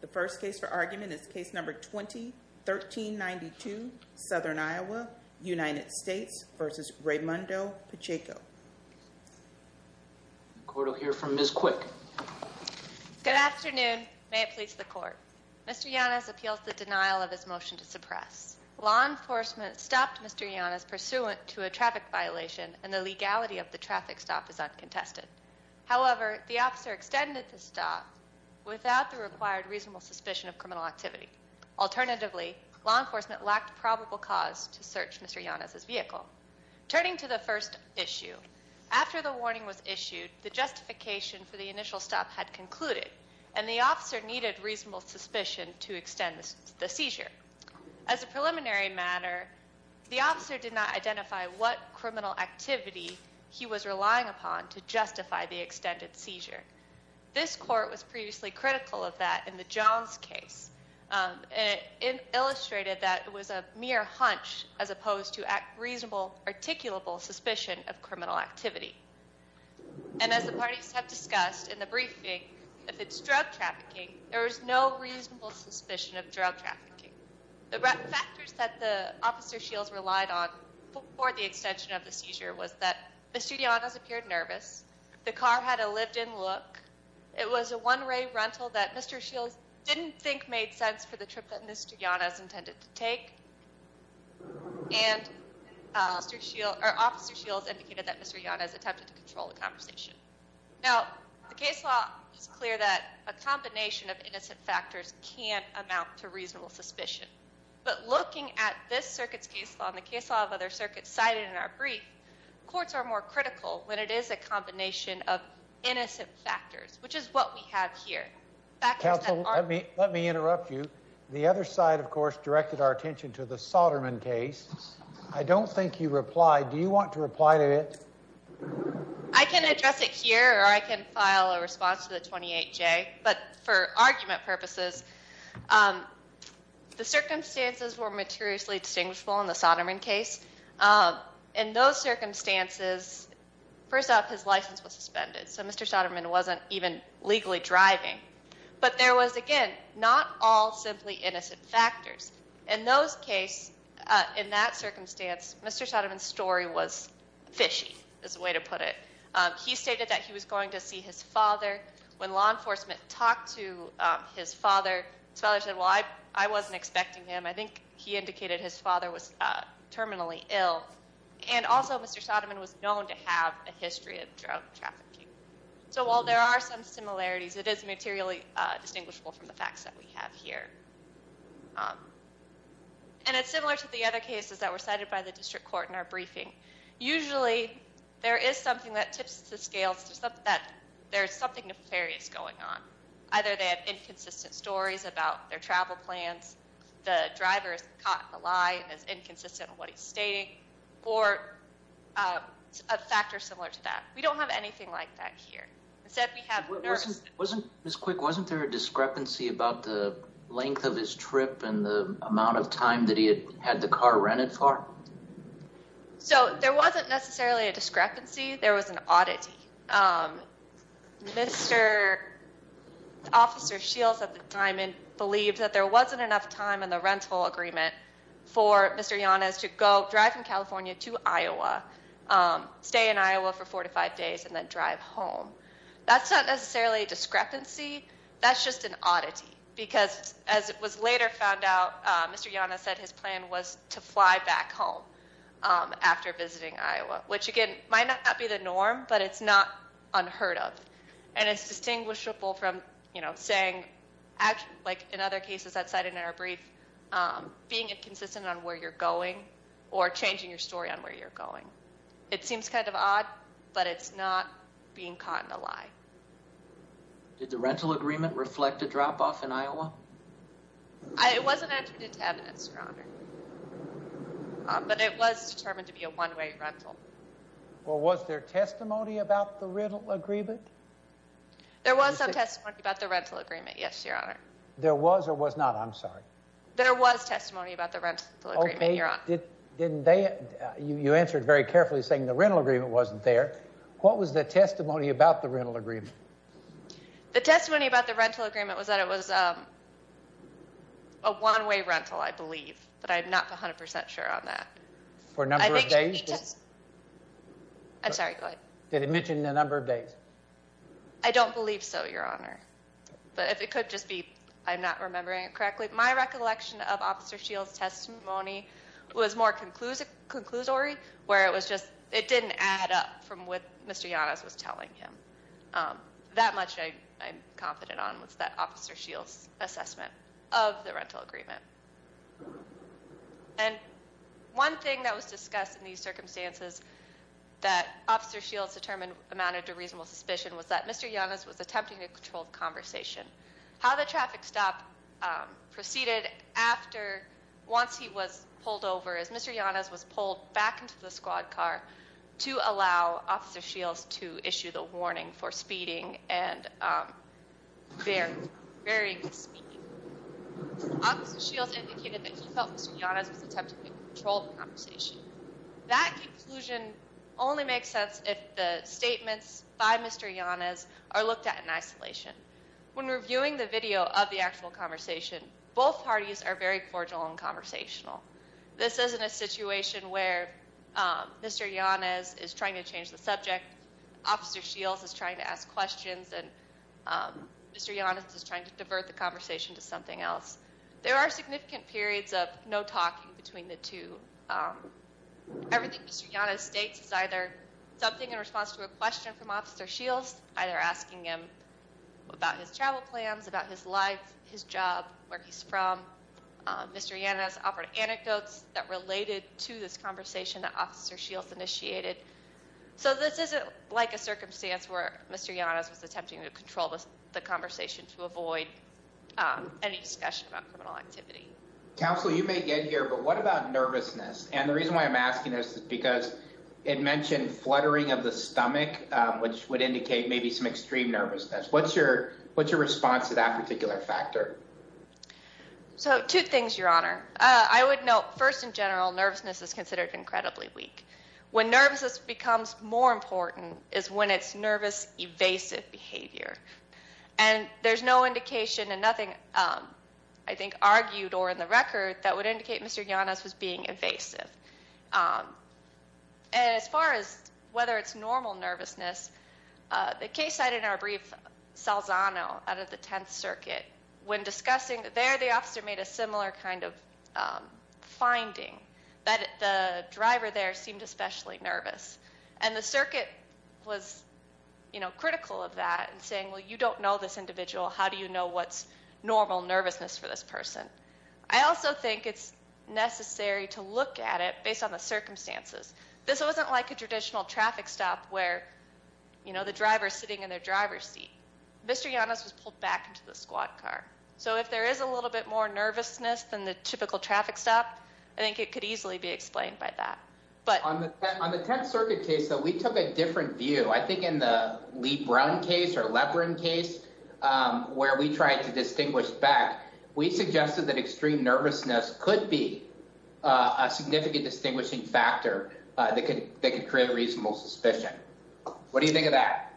The first case for argument is case number 20-1392, Southern Iowa, United States v. Reymundo Pacheco. Court will hear from Ms. Quick. Good afternoon. May it please the court. Mr. Yanez appeals the denial of his motion to suppress. Law enforcement stopped Mr. Yanez pursuant to a traffic violation and the legality of the traffic stop is uncontested. However, the officer extended the stop without the required reasonable suspicion of criminal activity. Alternatively, law enforcement lacked probable cause to search Mr. Yanez's vehicle. Turning to the first issue, after the warning was issued, the justification for the initial stop had concluded and the officer needed reasonable suspicion to extend the seizure. As a preliminary matter, the officer did not identify what criminal activity he was relying upon to justify the extended seizure. This court was previously critical of that in the Jones case. It illustrated that it was a mere hunch as opposed to reasonable articulable suspicion of criminal activity. And as the parties have discussed in the briefing, if it's drug trafficking, there is no reasonable suspicion of drug trafficking. The factors that the officer Shields relied on for the extension of the seizure was that Mr. Yanez appeared nervous. The car had a lived-in look. It was a one-way rental that Mr. Shields didn't think made sense for the trip that Mr. Yanez intended to take. And officer Shields indicated that Mr. Yanez attempted to control the conversation. Now, the case law is clear that a combination of innocent factors can't amount to reasonable suspicion. But looking at this circuit's case law and the case law of other circuits cited in our brief, courts are more critical when it is a combination of innocent factors, which is what we have here. Let me interrupt you. The other side, of course, directed our attention to the file a response to the 28J. But for argument purposes, the circumstances were materially distinguishable in the Soderman case. In those circumstances, first off, his license was suspended. So Mr. Soderman wasn't even legally driving. But there was, again, not all simply innocent factors. In those cases, in that circumstance, Mr. Soderman's story was fishy, is the way to put it. He stated that he was going to see his father. When law enforcement talked to his father, his father said, well, I wasn't expecting him. I think he indicated his father was terminally ill. And also, Mr. Soderman was known to have a history of drug trafficking. So while there are some similarities, it is materially distinguishable from the facts that we have here. And it's similar to the other cases that were cited by the district court in our There is something that tips the scales. There's something nefarious going on. Either they have inconsistent stories about their travel plans, the driver is caught in a lie and is inconsistent with what he's stating, or a factor similar to that. We don't have anything like that here. Ms. Quick, wasn't there a discrepancy about the length of his trip and the amount of time that had the car rented for? So there wasn't necessarily a discrepancy. There was an oddity. Mr. Officer Shields at the time believed that there wasn't enough time in the rental agreement for Mr. Llanes to go drive from California to Iowa, stay in Iowa for four to five days, and then drive home. That's not necessarily a discrepancy. That's just an oddity. Because as it was later found out, Mr. Llanes said his plan was to fly back home after visiting Iowa, which again might not be the norm, but it's not unheard of. And it's distinguishable from, you know, saying, like in other cases that cited in our brief, being inconsistent on where you're going or changing your story on where you're going. It seems kind of odd, but it's not being caught in a lie. Did the rental agreement reflect a drop-off in Iowa? It wasn't entered into evidence, Your Honor. But it was determined to be a one-way rental. Well, was there testimony about the rental agreement? There was some testimony about the rental agreement, yes, Your Honor. There was or was not? I'm sorry. There was testimony about the rental agreement, Your Honor. Didn't they? You answered very carefully saying the rental agreement wasn't there. What was the testimony about the rental agreement? The testimony about the rental agreement was that it was a one-way rental, I believe, but I'm not 100% sure on that. For a number of days? I'm sorry, go ahead. Did it mention the number of days? I don't believe so, Your Honor. But if it could just be, I'm not remembering it correctly. My recollection of Officer Shields' testimony was more conclusory, where it was just, it didn't add up from what Mr. Yanez was telling him. That much I'm confident on was that Officer Shields' assessment of the rental agreement. And one thing that was discussed in these circumstances that Officer Shields determined amounted to reasonable suspicion was that Mr. Yanez was attempting to control the conversation. How the traffic stop proceeded after, once he was Officer Shields to issue the warning for speeding and varying the speed. Officer Shields indicated that he felt Mr. Yanez was attempting to control the conversation. That conclusion only makes sense if the statements by Mr. Yanez are looked at in isolation. When reviewing the video of the actual conversation, both parties are very cordial and conversational. This isn't a situation where Mr. Yanez is trying to change the subject, Officer Shields is trying to ask questions, and Mr. Yanez is trying to divert the conversation to something else. There are significant periods of no talking between the two. Everything Mr. Yanez states is either something in response to a question from Officer Shields, either asking him about his travel plans, about his life, his job, where he's from. Mr. Yanez offered anecdotes that related to this conversation that Officer Shields initiated. So this isn't like a circumstance where Mr. Yanez was attempting to control the conversation to avoid any discussion about criminal activity. Counsel, you may get here, but what about nervousness? And the reason why I'm asking this is because it mentioned fluttering of the stomach, which would indicate maybe some response to that particular factor. So two things, Your Honor. I would note, first in general, nervousness is considered incredibly weak. When nervousness becomes more important is when it's nervous evasive behavior. And there's no indication and nothing I think argued or in the record that would indicate Mr. Yanez was being evasive. And as far as whether it's normal nervousness, the case cited in our brief, Salzano out of the Tenth Circuit, when discussing there the officer made a similar kind of finding that the driver there seemed especially nervous. And the circuit was, you know, critical of that and saying, well, you don't know this individual. How do you know what's normal nervousness for this person? I also think it's necessary to look at it based on the driver sitting in their driver's seat. Mr. Yanez was pulled back into the squad car. So if there is a little bit more nervousness than the typical traffic stop, I think it could easily be explained by that. On the Tenth Circuit case, though, we took a different view. I think in the Lee-Brown case or Leprin case, where we tried to distinguish back, we suggested that extreme nervousness could be a significant distinguishing factor that could create a reasonable suspicion. What do you think of that?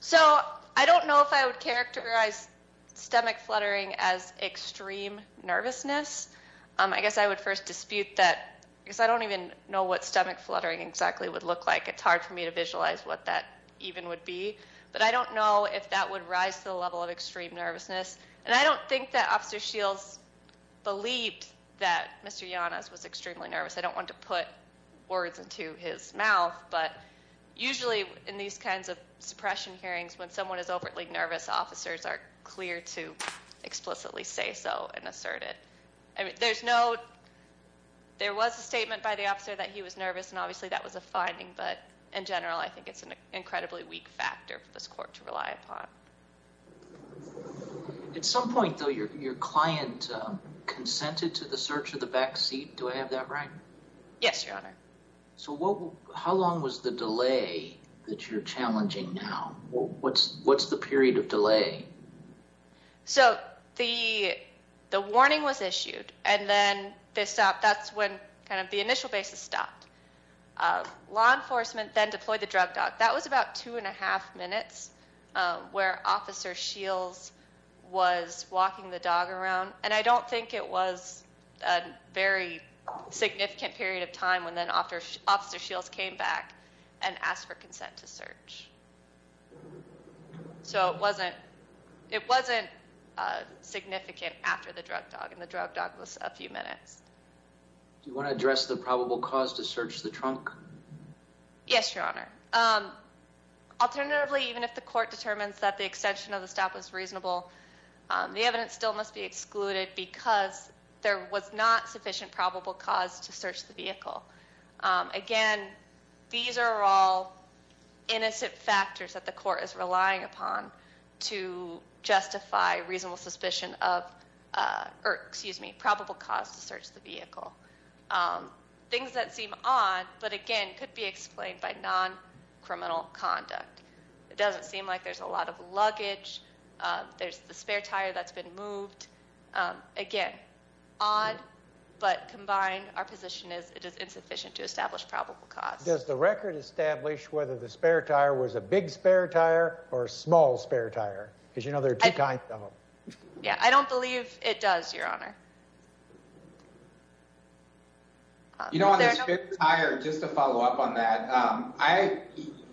So I don't know if I would characterize stomach fluttering as extreme nervousness. I guess I would first dispute that because I don't even know what stomach fluttering exactly would look like. It's hard for me to visualize what that even would be. But I don't know if that would rise to the level of extreme nervousness. And I don't think that Officer Shields believed that Mr. Yanez was extremely nervous. I don't want to put words into his mouth, but usually in these kinds of suppression hearings, when someone is overtly nervous, officers are clear to explicitly say so and assert it. There was a statement by the officer that he was nervous, and obviously that was a finding. But in general, I think it's an incredibly weak factor for this court to rely upon. At some point, though, your client consented to the search of the back seat. Do I have that right? Yes, Your Honor. So how long was the delay that you're challenging now? What's the period of delay? So the warning was issued, and then they stopped. That's when kind of the initial basis stopped. Law enforcement then deployed the drug dog. That was about two and a half minutes where Officer Shields was walking the dog around. And I don't think it was a very significant period of time when then Officer Shields came back and asked for consent to search. So it wasn't significant after the drug dog, and the drug dog was a few minutes. Do you want to address the probable cause to search the trunk? Yes, Your Honor. Alternatively, even if the court determines that the extension of the stop was reasonable, the evidence still must be excluded because there was not sufficient probable cause to search the vehicle. Again, these are all innocent factors that the court is relying upon to justify reasonable suspicion of, or excuse me, probable cause to search the vehicle. Things that seem odd, but again, could be explained by non-criminal conduct. It doesn't seem like there's a lot of luggage. There's the spare tire that's been moved. Again, odd, but combined, our position is it is insufficient to establish probable cause. Does the record establish whether the spare tire was a big spare tire or a small spare tire? Because you know there are two kinds of them. Yeah, I don't believe it does, Your Honor. You know, on the spare tire, just to follow up on that,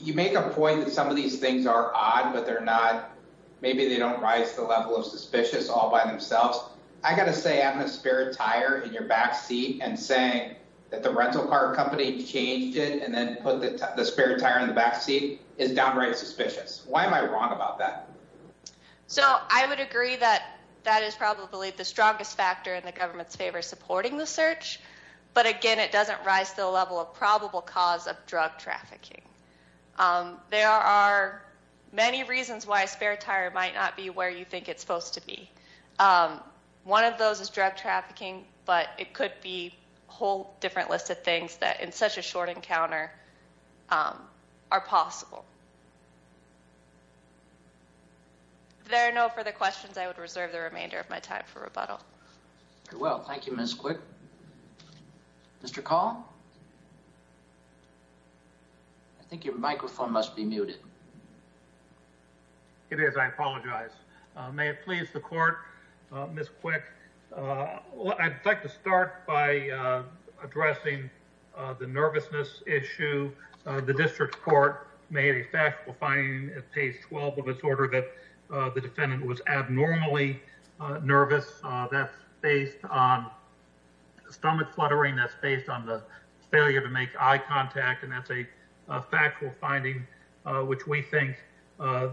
you make a point that some of these are odd, but maybe they don't rise to the level of suspicious all by themselves. I got to say having a spare tire in your backseat and saying that the rental car company changed it and then put the spare tire in the backseat is downright suspicious. Why am I wrong about that? So I would agree that that is probably the strongest factor in the government's favor supporting the search, but again, it doesn't rise to the level of probable cause of drug trafficking. There are many reasons why a spare tire might not be where you think it's supposed to be. One of those is drug trafficking, but it could be a whole different list of things that in such a short encounter are possible. If there are no further questions, I would reserve the remainder of my time for rebuttal. Very well, thank you, Ms. Quick. Mr. Call? I think your microphone must be muted. It is, I apologize. May it please the court, Ms. Quick, I'd like to start by addressing the nervousness issue. The district court made a factual finding at page 12 of its order that the defendant was abnormally nervous. That's based on stomach fluttering, that's based on the failure to make eye contact, and that's a factual finding which we think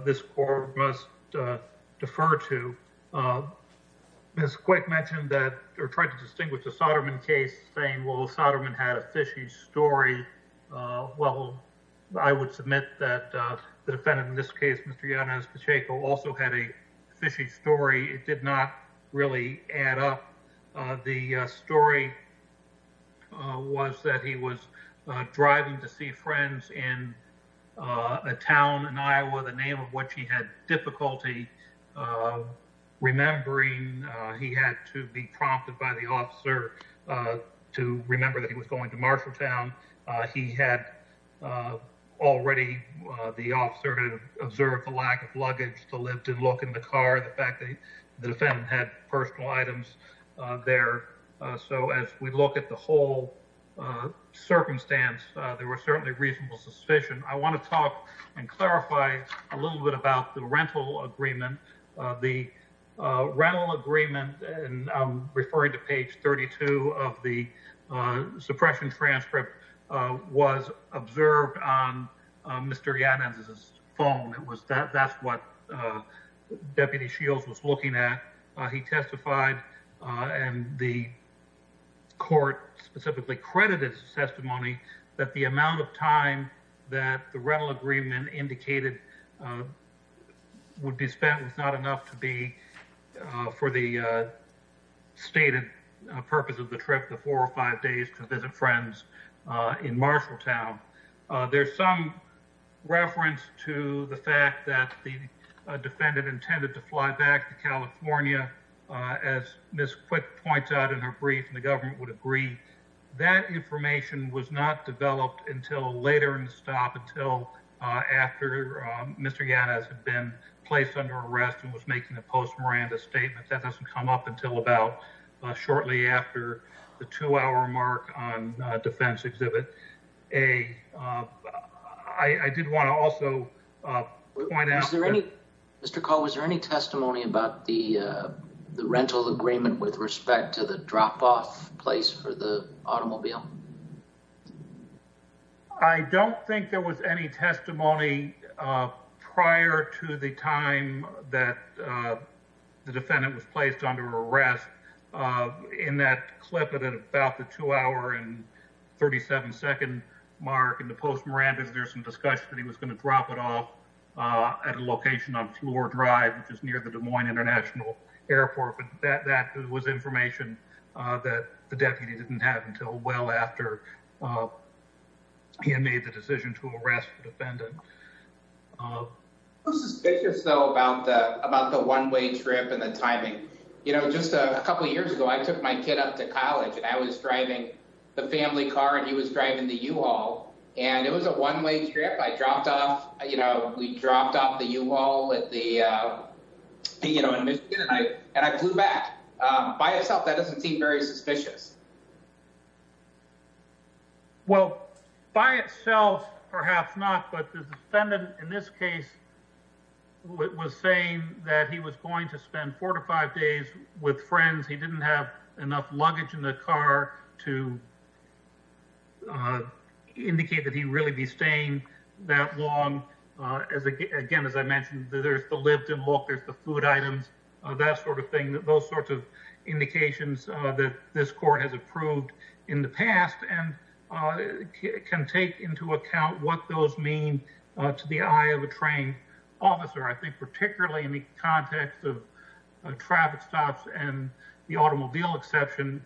this court must defer to. Ms. Quick mentioned that, or tried to distinguish the Soderman case saying, well, Soderman had a fishy story. Well, I would submit that the defendant in this case, Mr. Yanez Pacheco, also had a fishy story. It did not really add up. The story was that he was driving to see friends in a town in Iowa, the name of which he had difficulty remembering. He had to be prompted by the officer to remember that he was going to Marshalltown. He had already, the officer had observed the lack of luggage to lift and look in the car, the fact that the defendant had personal items there. So as we look at the whole circumstance, there was certainly reasonable suspicion. I want to talk and clarify a little bit about the rental agreement. The rental agreement, and I'm referring to page 32 of the suppression transcript, was observed on Mr. Yanez's phone. That's what Deputy Shields was looking at. He testified and the court specifically credited his testimony that the amount of time that the rental agreement indicated would be spent was not enough to be for the stated purpose of the trip, the four or five days to visit friends in Marshalltown. There's some reference to the fact that the defendant intended to fly back to California. As Ms. Quick points out in her brief, and the government would agree, that information was not developed until later in the stop until after Mr. Yanez had been arrested and was making a post-Miranda statement. That doesn't come up until about shortly after the two-hour mark on Defense Exhibit A. I did want to also point out... Was there any testimony about the rental agreement with respect to the drop-off place for the automobile? I don't think there was any testimony prior to the time that the defendant was placed under arrest. In that clip at about the two-hour and 37-second mark in the post-Miranda, there's some discussion that he was going to drop it off at a location on Floor Drive, which is near the Des Moines International Airport, but that was information that the deputy didn't have until well after he had made the decision to arrest the defendant. I'm a little suspicious, though, about the one-way trip and the timing. Just a couple of years ago, I took my kid up to college, and I was driving the family car, and he was driving the U-Haul. It was a one-way trip. We dropped off the U-Haul in Michigan, and I flew back. By itself, that doesn't seem very suspicious. Well, by itself, perhaps not, but the defendant in this case was saying that he was going to spend four to five days with friends. He didn't have enough luggage in the car to indicate that he'd really be staying that long. Again, as I mentioned, there's the lived-in look, there's the food items, that sort of thing, those sorts of indications that this court had. in the past and can take into account what those mean to the eye of a trained officer. I think, particularly in the context of traffic stops and the automobile exception,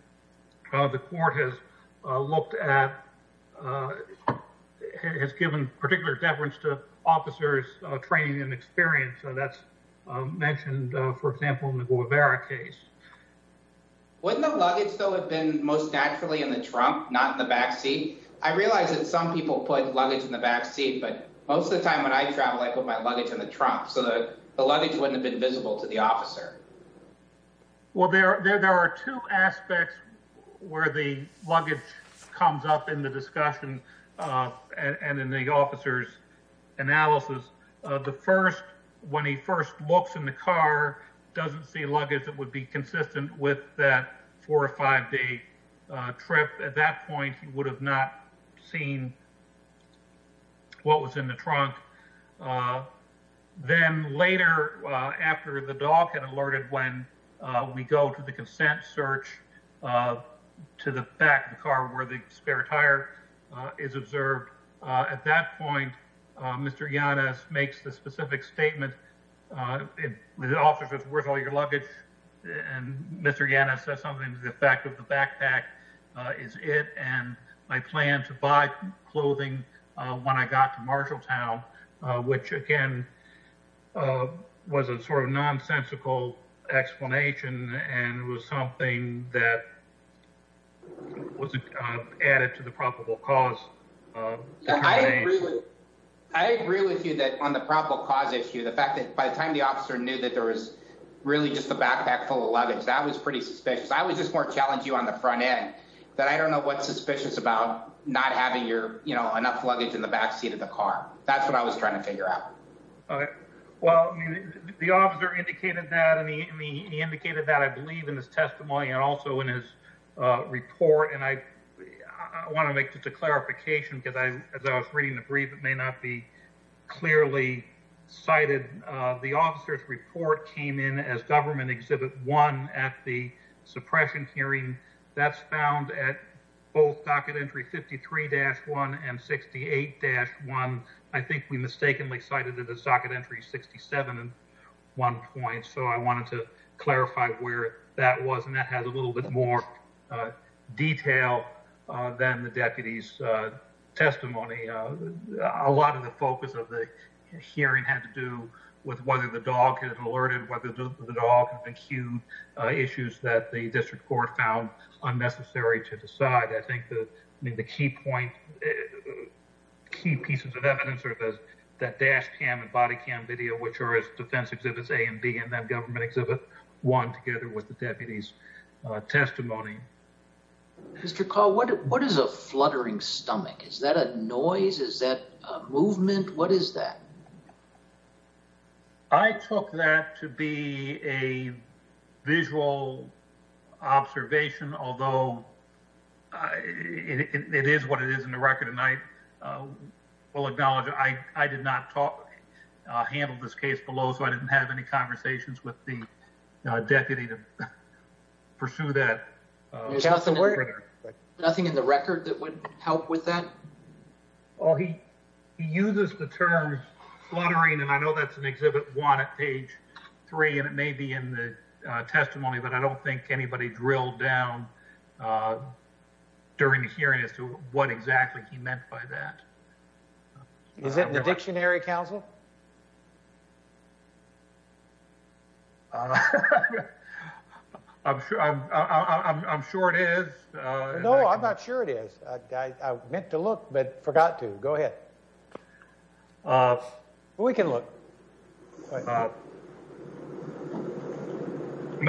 the court has given particular deference to officers' training and experience. That's mentioned, for example, in the Guevara case. Wouldn't the luggage, though, have been most naturally in the trunk, not in the back seat? I realize that some people put luggage in the back seat, but most of the time when I travel, I put my luggage in the trunk so that the luggage wouldn't have been visible to the officer. Well, there are two aspects where the luggage comes up in the discussion and in the officer's analysis. The first, when he first looks in the car, doesn't see luggage that would be consistent with that four or five-day trip. At that point, he would have not seen what was in the trunk. Then later, after the dog had alerted when we go to the consent search to the back of the car where the spare tire is observed, at that point, Mr. Yanez makes the specific statement, the officer says, where's all your luggage? And Mr. Yanez says something to the effect of the backpack is it and my plan to buy clothing when I got to Marshalltown, which, again, was a sort of nonsensical explanation and it was something that wasn't added to the probable cause. I agree with you that on the probable cause issue, the fact that by the time the officer knew that there was really just a backpack full of luggage, that was pretty suspicious. I was just more challenging on the front end that I don't know what's suspicious about not having enough luggage in the back seat of the car. That's what I was trying to figure out. Well, the officer indicated that and he indicated that, I believe, in his testimony and also in his report. I want to make just a clarification because as I was reading the brief, it may not be clearly cited. The officer's report came in as government exhibit one at the suppression hearing that's found at both docket entry 53-1 and 68-1. I think we mistakenly cited it at socket entry 67 at one point, so I wanted to clarify where that was and that has a little bit more detail than the deputy's testimony. A lot of the focus of the hearing had to do with whether the dog had alerted, whether the dog had been cued, issues that the district court found unnecessary to decide. I think the key point, key pieces of evidence are that dash cam and body cam video, which are as defense exhibits A and B and then government exhibit one together with the deputy's testimony. Mr. Call, what is a fluttering stomach? Is that a noise? Is that a movement? What is that? I took that to be a visual observation, although it is what it is in the record and I will acknowledge I did not handle this case below, so I didn't have any conversations with the deputy to pursue that. There's nothing in the record that would help with that? Well, he uses the term fluttering and I know that's an exhibit one at page three and it may be in the testimony, but I don't think anybody drilled down during the hearing as to what exactly he meant by that. Is it in the dictionary, counsel? I'm sure it is. No, I'm not sure it is. I meant to look, but forgot to. Go ahead. We can look. Put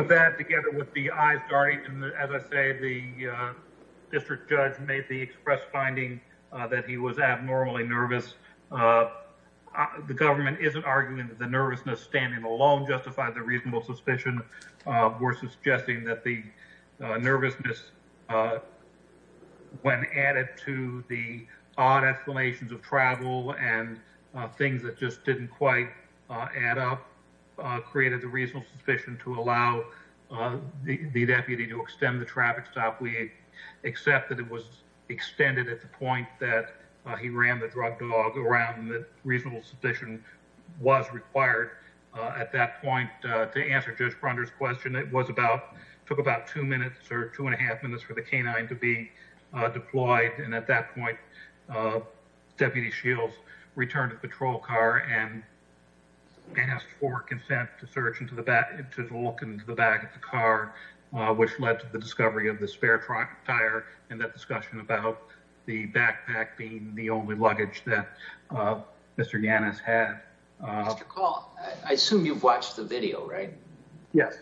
that together with the eyes darting and as I say, the district judge made the express finding that he was abnormally nervous. The government isn't arguing that the nervousness standing alone justified the reasonable suspicion. We're suggesting that the nervousness when added to the odd explanations of travel and things that just didn't quite add up created the reasonable suspicion to allow the deputy to extend the traffic stop. We accept that it was at that point that he ran the drug dog around that reasonable suspicion was required at that point. To answer Judge Brunder's question, it was about took about two minutes or two and a half minutes for the canine to be deployed and at that point, Deputy Shields returned the patrol car and asked for consent to search into the back to look into the back of the car, which led to the being the only luggage that Mr. Gannis had. Mr. Call, I assume you've watched the video, right? Yes.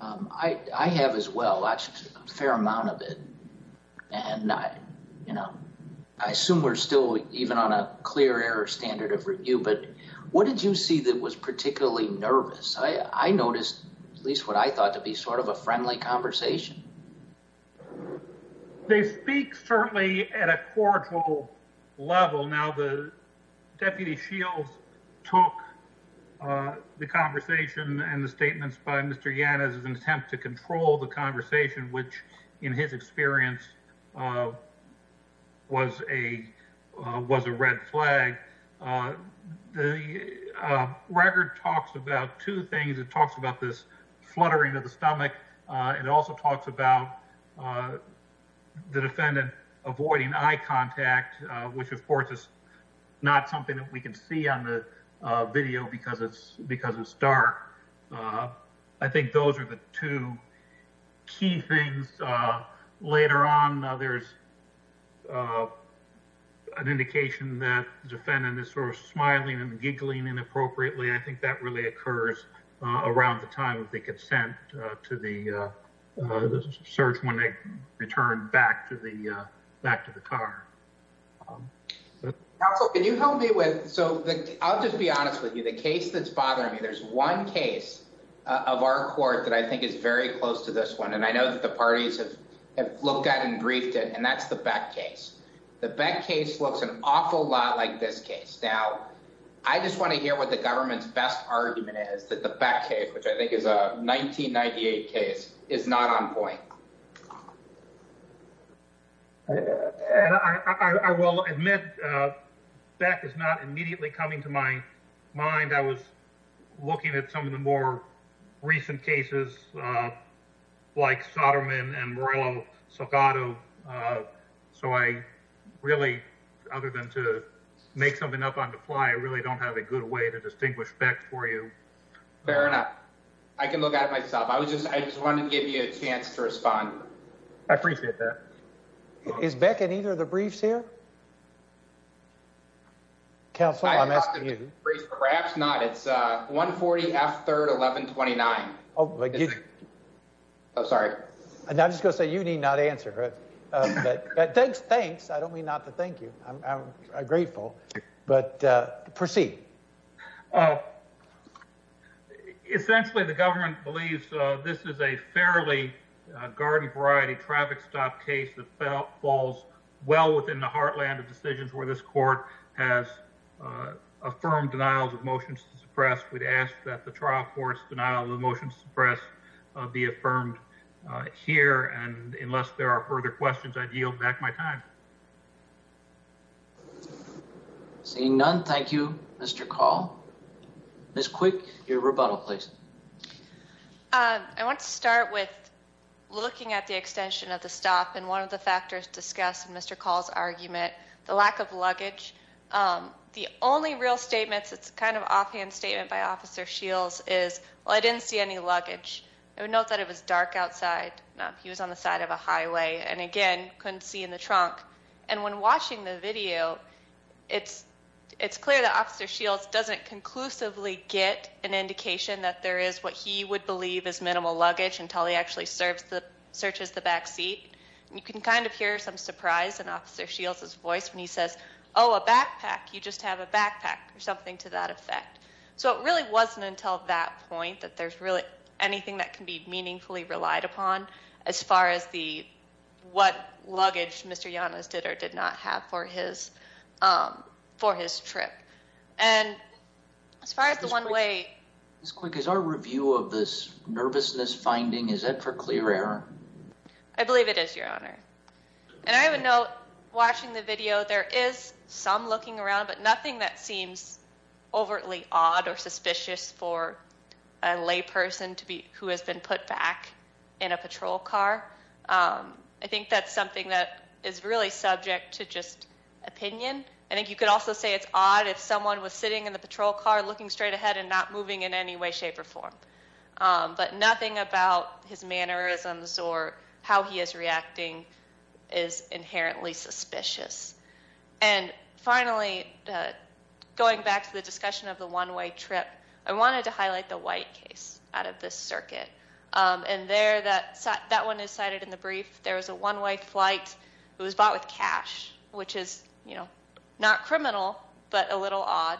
I have as well. I've watched a fair amount of it and I assume we're still even on a clear air standard of review, but what did you see that was particularly nervous? I noticed at least what I thought to be sort of a friendly conversation. They speak certainly at a cordial level. Now, the Deputy Shields took the conversation and the statements by Mr. Gannis as an attempt to control the conversation, which in his experience was a was a red flag. The record talks about two there was a lot of shuddering of the stomach. It also talks about the defendant avoiding eye contact, which of course is not something that we can see on the video because it's because it's dark. I think those are the two key things. Later on there's an indication that the defendant is sort of smiling and giggling inappropriately. I think that really occurs around the time of the consent to the search when they returned back to the back to the car. Counsel, can you help me with, so I'll just be honest with you, the case that's one case of our court that I think is very close to this one and I know that the parties have have looked at and briefed it and that's the Beck case. The Beck case looks an awful lot like this case. Now, I just want to hear what the government's best argument is that the Beck case, which I think is a 1998 case, is not on point. I will admit Beck is not immediately coming to my mind. I was looking at some of the more recent cases like Soderman and Morello-Salgado, so I really, other than to make something up on the fly, I really don't have a good way to distinguish Beck for you. Fair enough. I can look at it myself. I was just, I just wanted to give you a chance to respond. I appreciate that. Is Beck in either of the briefs here? Counsel, I'm asking you. Perhaps not. It's 140 F 3rd 1129. Oh, I'm sorry. And I'm just going to say you need not answer. But thanks, thanks. I don't mean not to thank you. I'm grateful, but proceed. Essentially, the government believes this is a fairly garden variety traffic stop case that falls well within the heartland of decisions where this court has affirmed denials of motions to suppress. We'd ask that the trial court's denial of the motions to suppress be affirmed here, and unless there are further questions, I'd yield back my time. Seeing none, thank you, Mr. Call. Ms. Quick, your rebuttal, please. I want to start with looking at the extension of the stop, and one of the factors discussed in Mr. Call's argument, the lack of luggage. The only real statements, it's kind of offhand statement by Officer Shields is, well, I didn't see any luggage. I would note that it was dark outside. He was on the side of a highway, and again, couldn't see in the trunk. And when watching the video, it's get an indication that there is what he would believe is minimal luggage until he actually searches the back seat. You can kind of hear some surprise in Officer Shields' voice when he says, oh, a backpack. You just have a backpack or something to that effect. So it really wasn't until that point that there's really anything that can be meaningfully relied upon as far as the one way. Ms. Quick, is our review of this nervousness finding, is that for clear error? I believe it is, Your Honor. And I would note watching the video, there is some looking around, but nothing that seems overtly odd or suspicious for a lay person who has been put back in a patrol car. I think that's something that is really subject to just opinion. I think you could also say it's odd if someone was sitting in the patrol car looking straight ahead and not moving in any way, shape, or form. But nothing about his mannerisms or how he is reacting is inherently suspicious. And finally, going back to the discussion of the one way trip, I wanted to highlight the white case out of this circuit. And there, that one is cited in the brief. There was a little odd.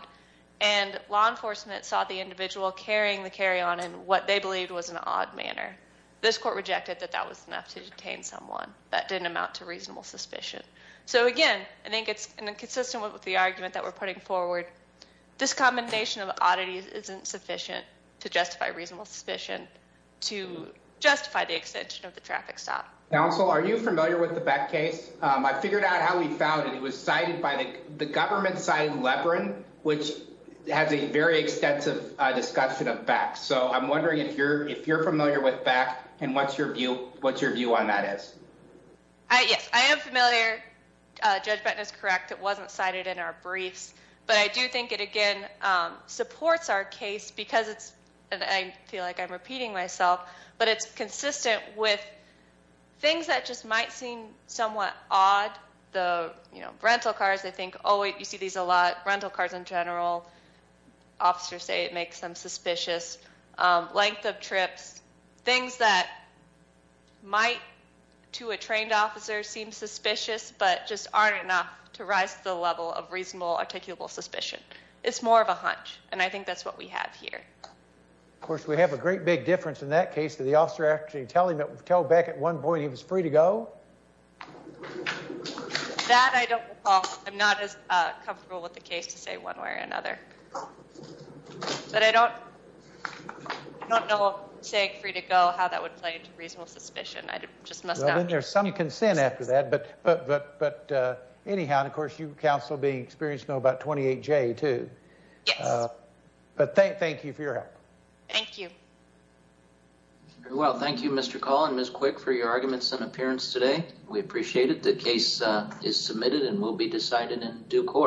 And law enforcement saw the individual carrying the carry-on in what they believed was an odd manner. This court rejected that that was enough to detain someone. That didn't amount to reasonable suspicion. So again, I think it's inconsistent with the argument that we're putting forward. This commendation of oddities isn't sufficient to justify reasonable suspicion, to justify the extension of the traffic stop. Counsel, are you familiar with the Beck case? I figured out how we found it. It was cited by the government side in Lebron, which has a very extensive discussion of Beck. So I'm wondering if you're familiar with Beck and what your view on that is. Yes, I am familiar. Judge Benton is correct. It wasn't cited in our briefs. But I do think it, again, supports our case because it's, and I feel like odd. The, you know, rental cars, they think, oh wait, you see these a lot. Rental cars in general, officers say it makes them suspicious. Length of trips, things that might to a trained officer seem suspicious, but just aren't enough to rise to the level of reasonable articulable suspicion. It's more of a hunch. And I think that's what we have here. Of course, we have a great big difference in that case to the officer actually telling that we tell Beck at one point he was free to go. That I don't recall. I'm not as comfortable with the case to say one way or another. But I don't, I don't know saying free to go, how that would play into reasonable suspicion. I just must not. Well, then there's some consent after that. But, but, but anyhow, and of course you, counsel, being experienced know about 28J too. Yes. But thank you for your help. Thank you. Very well. Thank you, Mr. Call and Ms. Quick for your arguments and appearance today. We appreciate it. The case is submitted and will be decided in due course.